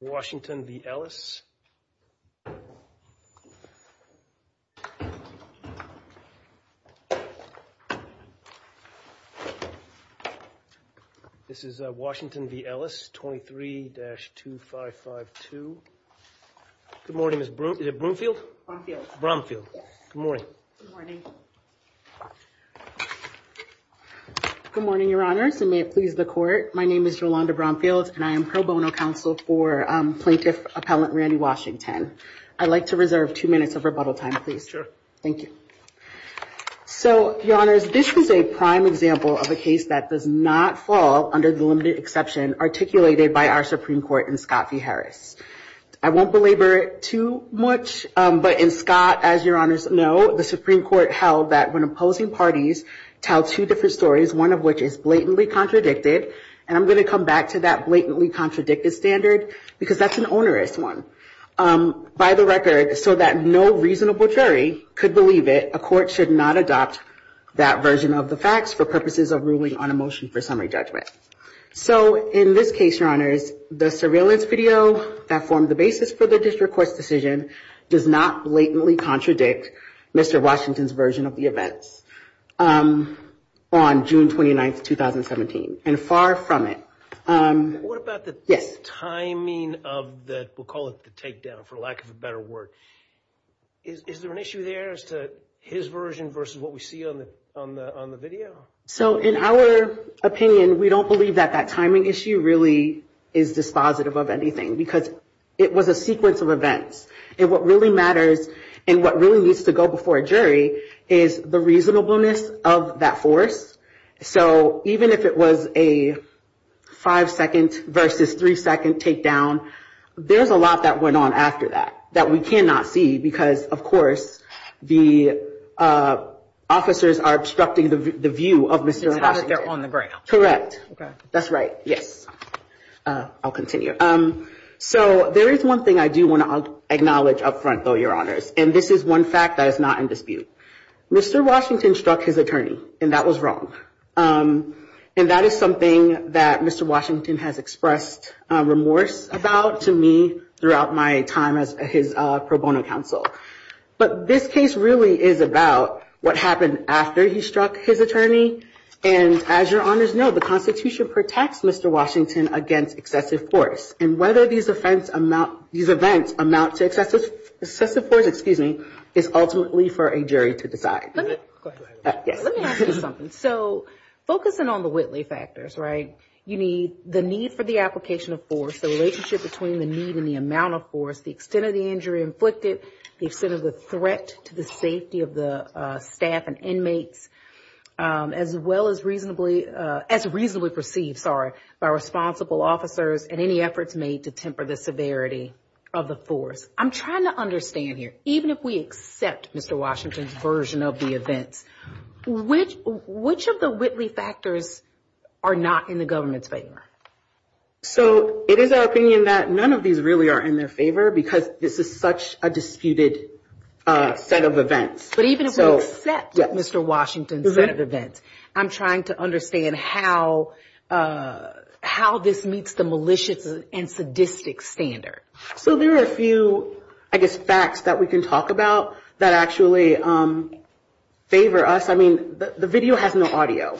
This is Washington v. Ellis, 23-2552. Good morning, Ms. Brumfield? Brumfield. Good morning. Good morning, Your Honors, and may it please the court. My name is Yolanda Brumfield, and I am pro bono counsel for plaintiff appellant Randy Washington. I'd like to reserve two minutes of rebuttal time, please. Sure. Thank you. So, Your Honors, this is a prime example of a case that does not fall under the limited exception articulated by our Supreme Court in Scott v. Harris. I won't belabor it too much, but in Scott, as Your Honors know, the Supreme Court held that when opposing parties tell two different stories, one of which is blatantly contradicted, and I'm going to come back to that blatantly contradicted standard because that's an onerous one. By the record, so that no reasonable jury could believe it, a court should not adopt that version of the facts for purposes of ruling on a motion for summary judgment. So, in this case, Your Honors, the surveillance video that formed the basis for the district court's decision does not blatantly contradict Mr. Washington's version of the events on June 29, 2017, and far from it. What about the timing of the, we'll call it the takedown for lack of a better word. Is there an issue there as to his version versus what we see on the video? So, in our opinion, we don't believe that that timing issue really is dispositive of anything because it was a sequence of events. And what really matters and what really needs to go before a jury is the reasonableness of that force. So, even if it was a five-second versus three-second takedown, there's a lot that went on after that that we cannot see because, of course, the officers are obstructing the view of Mr. Washington. It's not that they're on the ground. Correct. That's right. Yes. I'll continue. So, there is one thing I do want to acknowledge up front, though, Your Honors, and this is one fact that is not in dispute. Mr. Washington struck his attorney, and that was wrong. And that is something that Mr. Washington has expressed remorse about to me throughout my time as his pro bono counsel. But this case really is about what happened after he struck his attorney. And as Your Honors know, the Constitution protects Mr. Washington against excessive force. And whether these events amount to excessive force is ultimately for a jury to decide. Let me ask you something. So, focusing on the Whitley factors, right, you need the need for the application of force, the relationship between the need and the amount of force, the extent of the injury inflicted, the extent of the threat to the safety of the staff and inmates, as well as reasonably perceived by responsible officers and any efforts made to temper the severity of the force, I'm trying to understand here, even if we accept Mr. Washington's version of the events, which of the Whitley factors are not in the government's favor? So, it is our opinion that none of these really are in their favor because this is such a disputed set of events. But even if we accept Mr. Washington's set of events, I'm trying to understand how this meets the malicious and sadistic standard. So, there are a few, I guess, facts that we can talk about that actually favor us. I mean, the video has no audio.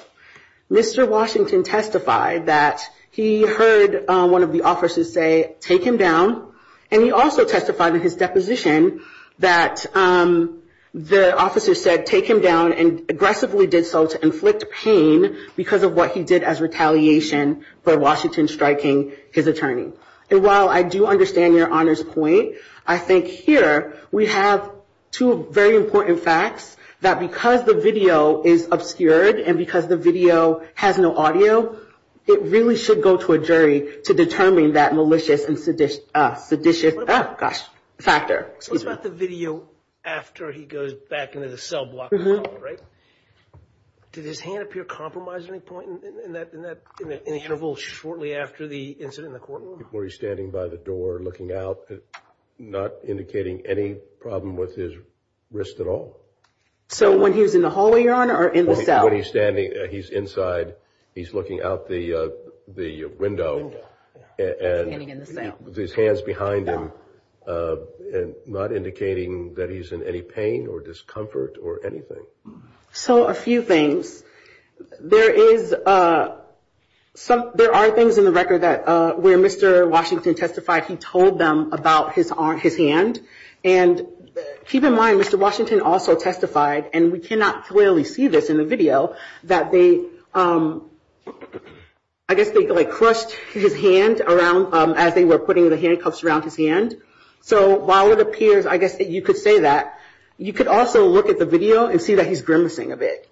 Mr. Washington testified that he heard one of the officers say, take him down, and he also testified in his deposition that the officer said, take him down, and aggressively did so to inflict pain because of what he did as retaliation for Washington striking his attorney. And while I do understand your honor's point, I think here we have two very important facts that because the video is obscured and because the video has no audio, it really should go to a jury to determine that malicious and seditious factor. What about the video after he goes back into the cell block? Did his hand appear compromised at any point in that interval shortly after the incident in the cell block? Were he standing by the door, looking out, not indicating any problem with his wrist at all? So, when he was in the hallway, your honor, or in the cell? When he's standing, he's inside, he's looking out the window and his hands behind him, not indicating that he's in any pain or discomfort or anything. So, a few things. There are things in the record where Mr. Washington testified he told them about his hand. And keep in mind, Mr. Washington also testified, and we cannot clearly see this in the video, that they, I guess they crushed his hand around as they were putting the handcuffs around his hand. So, while it appears, I guess that you could say that, you could also look at the video and see that he's grimacing a bit.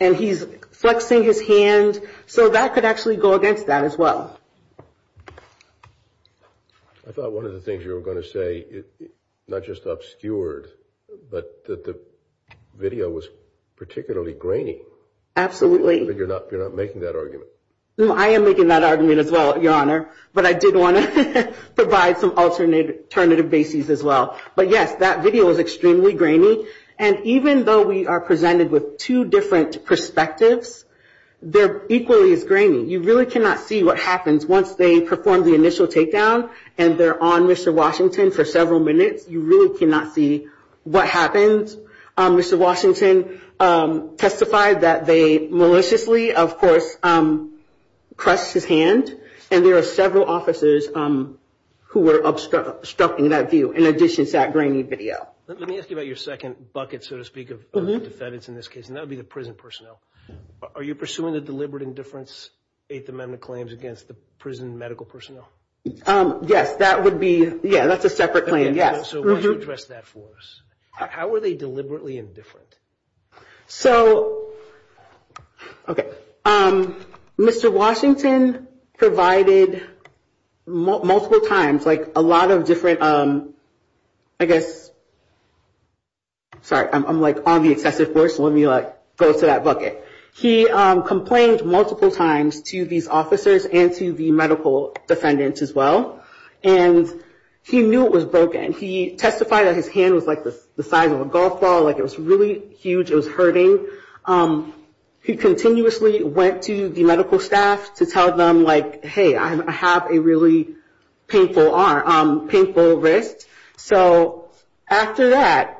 And he's flexing his hand. So, that could actually go against that as well. I thought one of the things you were going to say, not just obscured, but that the video was particularly grainy. Absolutely. But you're not making that argument. I am making that argument as well, your honor. But I did want to provide some alternative bases as well. But yes, that video was extremely grainy. And even though we are presented with two different perspectives, they're equally as grainy. You really cannot see what happens once they perform the initial takedown and they're on Mr. Washington for several minutes. You really cannot see what happens. Mr. Washington testified that they maliciously, of course, crushed his hand. And there are several officers who were obstructing that view, in addition to that grainy video. Let me ask you about your second bucket, so to speak, of defendants in this case, and that would be the prison personnel. Are you pursuing the deliberate indifference Eighth Amendment claims against the prison medical personnel? Yes, that would be. Yeah, that's a separate claim. Yes. So why don't you address that for us? How are they deliberately indifferent? So, OK, Mr. Washington provided multiple times, like a lot of different, I guess. Sorry, I'm like on the excessive force when you go to that bucket. He complained multiple times to these officers and to the medical defendants as well. And he knew it was broken. He testified that his hand was like the size of a golf ball, like it was really huge. It was hurting. He continuously went to the medical staff to tell them, like, hey, I have a really painful wrist. So after that,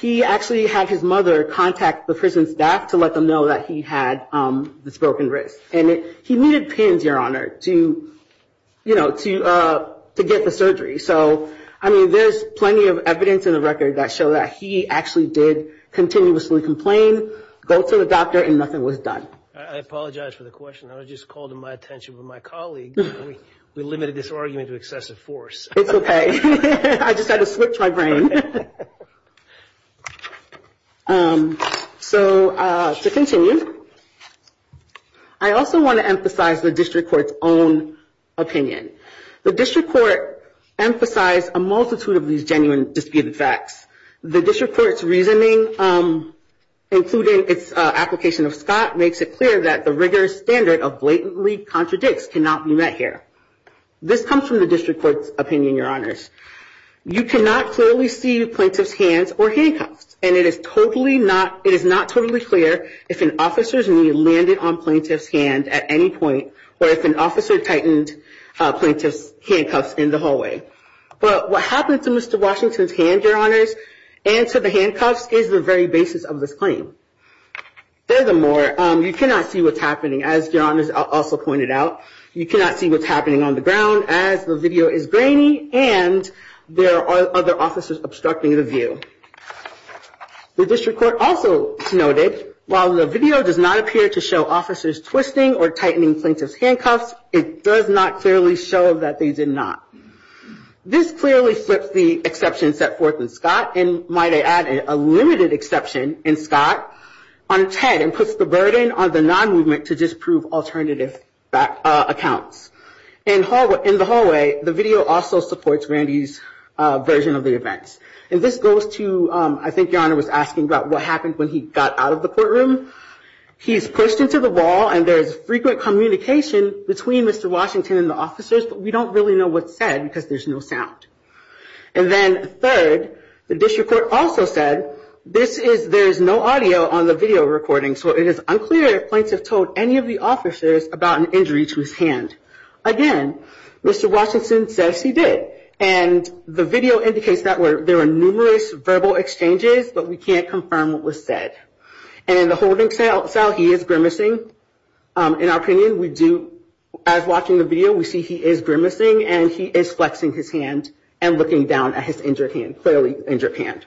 he actually had his mother contact the prison staff to let them know that he had this broken wrist. And he needed pins, Your Honor, to, you know, to get the surgery. So, I mean, there's plenty of evidence in the record that show that he actually did continuously complain, go to the doctor and nothing was done. I apologize for the question. I was just called to my attention with my colleague. We limited this argument to excessive force. It's OK. I just had to switch my brain. So to continue, I also want to emphasize the district court's own opinion. The district court emphasized a multitude of these genuine disputed facts. The district court's reasoning, including its application of Scott, makes it clear that the rigorous standard of blatantly contradicts cannot be met here. This comes from the district court's opinion, Your Honors. You cannot clearly see plaintiff's hands or handcuffs. And it is totally not it is not totally clear if an officer's knee landed on plaintiff's hand at any point or if an officer tightened plaintiff's handcuffs in the hallway. But what happened to Mr. Washington's hand, Your Honors, and to the handcuffs is the very basis of this claim. Furthermore, you cannot see what's happening, as Your Honors also pointed out. You cannot see what's happening on the ground as the video is grainy and there are other officers obstructing the view. The district court also noted while the video does not appear to show officers twisting or tightening plaintiff's handcuffs, it does not clearly show that they did not. This clearly flips the exception set forth in Scott, and might I add, a limited exception in Scott, on its head and puts the burden on the non-movement to disprove alternative accounts. In the hallway, the video also supports Randy's version of the events. And this goes to, I think Your Honor was asking about what happened when he got out of the courtroom. He's pushed into the wall and there's frequent communication between Mr. Washington and the officers, but we don't really know what's said because there's no sound. And then third, the district court also said this is, there's no audio on the video recording, so it is unclear if plaintiff told any of the officers about an injury to his hand. Again, Mr. Washington says he did, and the video indicates that there were numerous verbal exchanges, but we can't confirm what was said. And in the holding cell, he is grimacing. In our opinion, we do, as watching the video, we see he is grimacing and he is flexing his hand and looking down at his injured hand, clearly injured hand.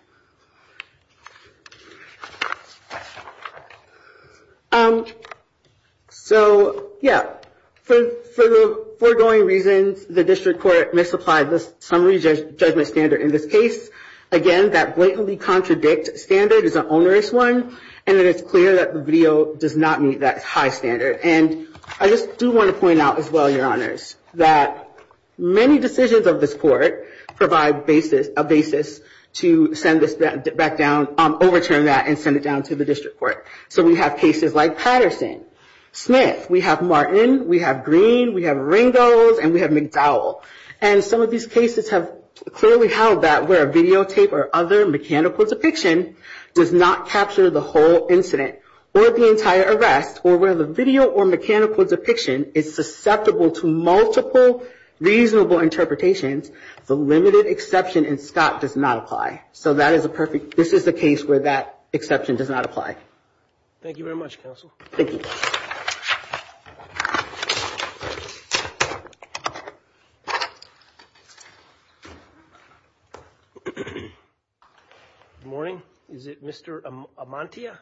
So, yeah, for the foregoing reasons, the district court misapplied the summary judgment standard in this case. Again, that blatantly contradict standard is an onerous one, and it is clear that the video does not meet that high standard. And I just do want to point out as well, Your Honors, that many decisions of this court provide a basis to send this back down, overturn that and send it down to the district court. So we have cases like Patterson, Smith, we have Martin, we have Green, we have Ringos, and we have McDowell. And some of these cases have clearly held that where a videotape or other mechanical depiction does not capture the whole incident or the entire arrest, or where the video or mechanical depiction is susceptible to multiple reasonable interpretations, the limited exception in Scott does not apply. So that is a perfect, this is a case where that exception does not apply. Thank you very much, Counsel. Good morning. Is it Mr. Amantia?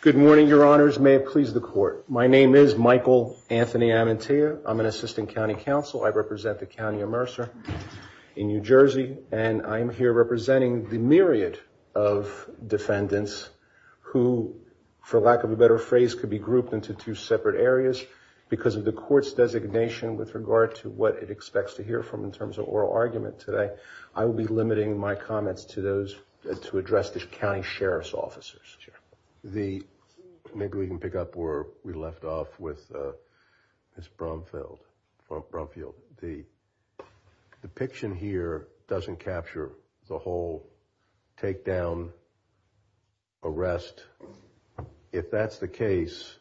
Good morning, Your Honors. May it please the Court. My name is Michael Anthony Amantia. I'm an Assistant County Counsel. I represent the County of Mercer in New Jersey, and I'm here representing the myriad of defendants who, for lack of a better phrase, could be grouped into two separate areas. Because of the Court's designation with regard to what it expects to hear from in terms of oral argument today, I will be limiting my comments to those, to address the county sheriff's officers. Sure. Maybe we can pick up where we left off with Ms. Brumfield. The depiction here doesn't capture the whole takedown, arrest. If that's the case,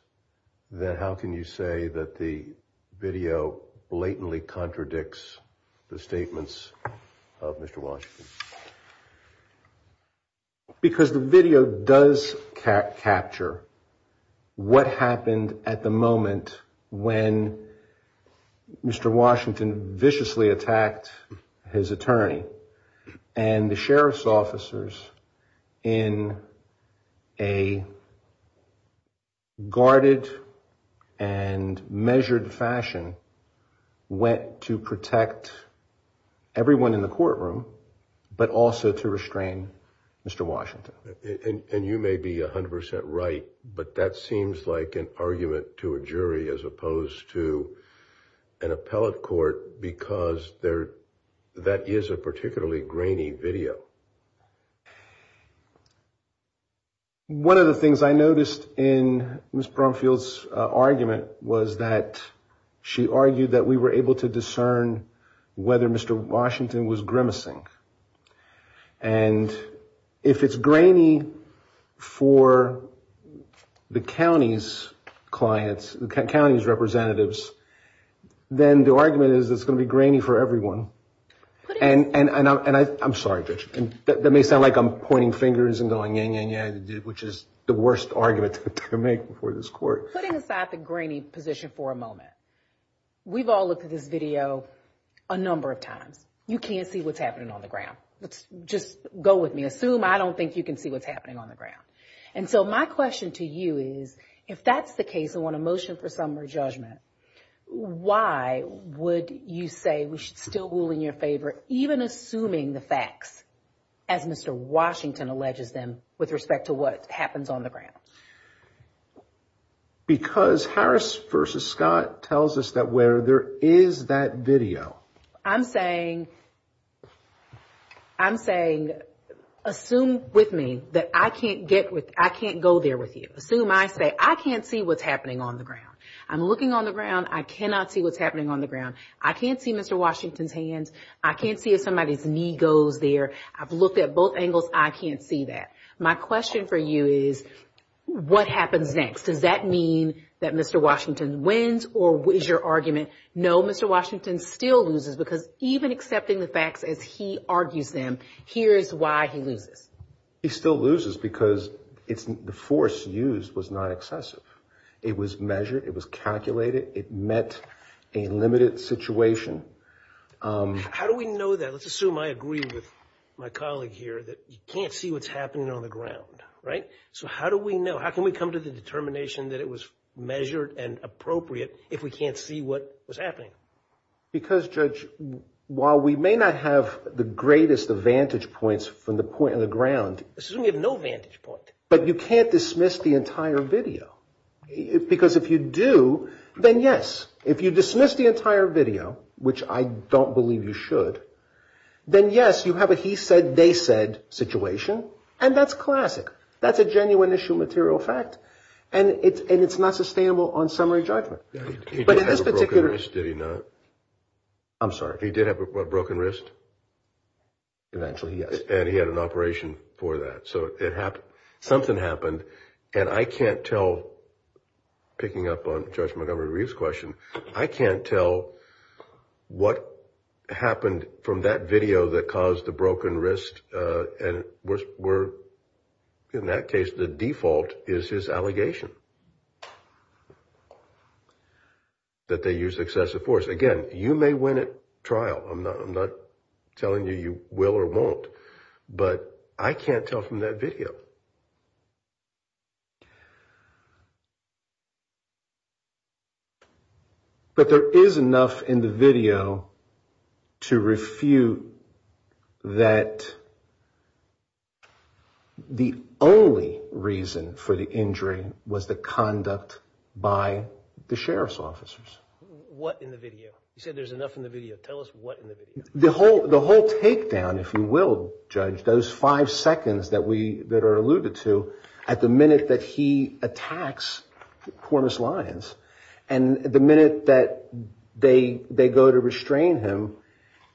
then how can you say that the video blatantly contradicts the statements of Mr. Washington? Because the video does capture what happened at the moment when Mr. Washington viciously attacked his attorney. And the sheriff's officers, in a guarded and measured fashion, went to protect everyone in the courtroom. But also to restrain Mr. Washington. And you may be 100% right, but that seems like an argument to a jury as opposed to an appellate court, because that is a particularly grainy video. One of the things I noticed in Ms. Brumfield's argument was that she argued that we were able to discern whether Mr. Washington was grimacing. And if it's grainy for the county's clients, the county's representatives, then the argument is it's going to be grainy for everyone. And I'm sorry, Judge, that may sound like I'm pointing fingers and going, yeah, yeah, yeah, which is the worst argument to make before this court. Putting aside the grainy position for a moment, we've all looked at this video a number of times. You can't see what's happening on the ground. Let's just go with me. Assume I don't think you can see what's happening on the ground. And so my question to you is, if that's the case and want a motion for summary judgment, why would you say we should still rule in your favor, even assuming the facts, as Mr. Washington alleges them, with respect to what happens on the ground? Because Harris versus Scott tells us that where there is that video. I'm saying assume with me that I can't go there with you. Assume I say I can't see what's happening on the ground. I'm looking on the ground. I cannot see what's happening on the ground. I can't see Mr. Washington's hands. I can't see if somebody's knee goes there. I've looked at both angles. I can't see that. My question for you is, what happens next? Does that mean that Mr. Washington wins or is your argument no, Mr. Washington still loses? Because even accepting the facts as he argues them, here's why he loses. He still loses because the force used was not excessive. It was measured. It was calculated. It met a limited situation. How do we know that? Let's assume I agree with my colleague here that you can't see what's happening on the ground, right? So how do we know? How can we come to the determination that it was measured and appropriate if we can't see what was happening? Because, Judge, while we may not have the greatest advantage points from the point on the ground. Assuming you have no vantage point. But you can't dismiss the entire video. Because if you do, then yes, if you dismiss the entire video, which I don't believe you should, then yes, you have a he said, they said situation. And that's classic. That's a genuine issue material fact. And it's not sustainable on summary judgment. I'm sorry. He did have a broken wrist. Eventually, yes. And he had an operation for that. So it happened. Something happened. And I can't tell. Picking up on Judge Montgomery's question. I can't tell what happened from that video that caused the broken wrist. And we're in that case. The default is his allegation. That they use excessive force again, you may win it trial. I'm not I'm not telling you you will or won't. But I can't tell from that video. But there is enough in the video to refute that. That the only reason for the injury was the conduct by the sheriff's officers. What in the video? You said there's enough in the video. Tell us what the whole the whole takedown, if you will, judge those five seconds that we that are alluded to at the minute that he attacks Cormus Lyons and the minute that they they go to restrain him.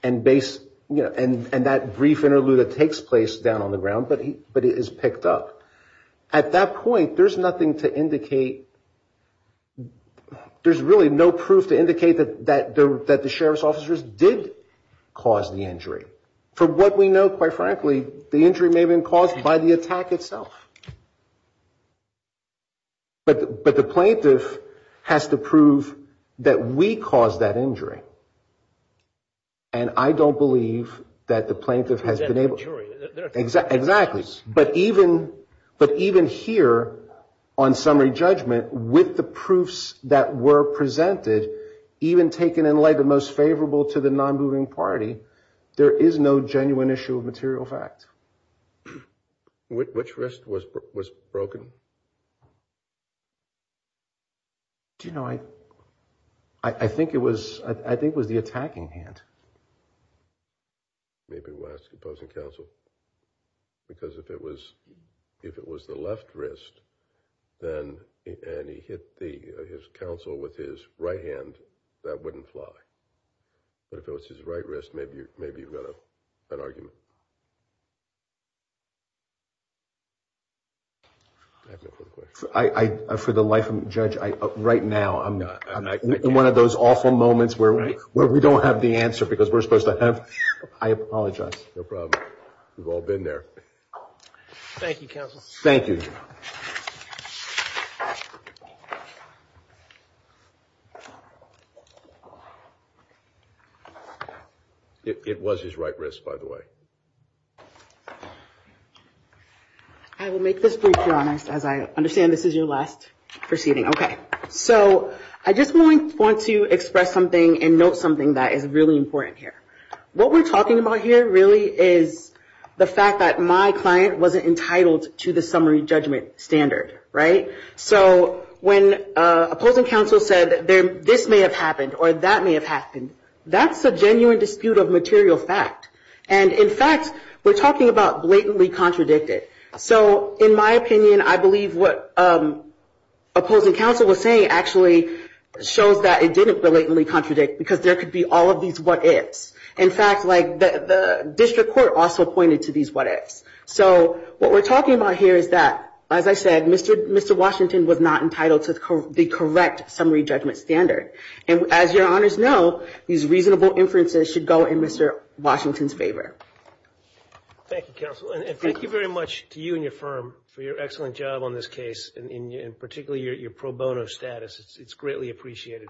And base and that brief interlude that takes place down on the ground. But but it is picked up at that point. There's nothing to indicate. There's really no proof to indicate that that that the sheriff's officers did cause the injury. For what we know, quite frankly, the injury may have been caused by the attack itself. But but the plaintiff has to prove that we caused that injury. And I don't believe that the plaintiff has been able to exact exactly. But even but even here on summary judgment with the proofs that were presented, even taken in like the most favorable to the non-moving party, there is no genuine issue of material fact. Which risk was was broken? Do you know, I I think it was I think was the attacking hand. Maybe West opposing counsel, because if it was if it was the left wrist, then and he hit the his counsel with his right hand, that wouldn't fly. But if it was his right wrist, maybe maybe you've got an argument. I for the life of a judge, I right now, I'm not in one of those awful moments where we where we don't have the answer because we're supposed to have. I apologize. No problem. We've all been there. Thank you, counsel. Thank you. It was his right wrist, by the way. I will make this brief, honest, as I understand this is your last proceeding. OK, so I just want to express something and note something that is really important here. What we're talking about here really is the fact that my client wasn't entitled to the summary judgment standard. Right. So when opposing counsel said that this may have happened or that may have happened, that's a genuine dispute of material fact. And in fact, we're talking about blatantly contradicted. So in my opinion, I believe what opposing counsel was saying actually shows that it didn't blatantly contradict, because there could be all of these what ifs. In fact, like the district court also pointed to these what ifs. So what we're talking about here is that, as I said, Mr. Mr. Washington was not entitled to the correct summary judgment standard. And as your honors know, these reasonable inferences should go in Mr. Washington's favor. Thank you, counsel, and thank you very much to you and your firm for your excellent job on this case. And particularly your pro bono status. It's greatly appreciated.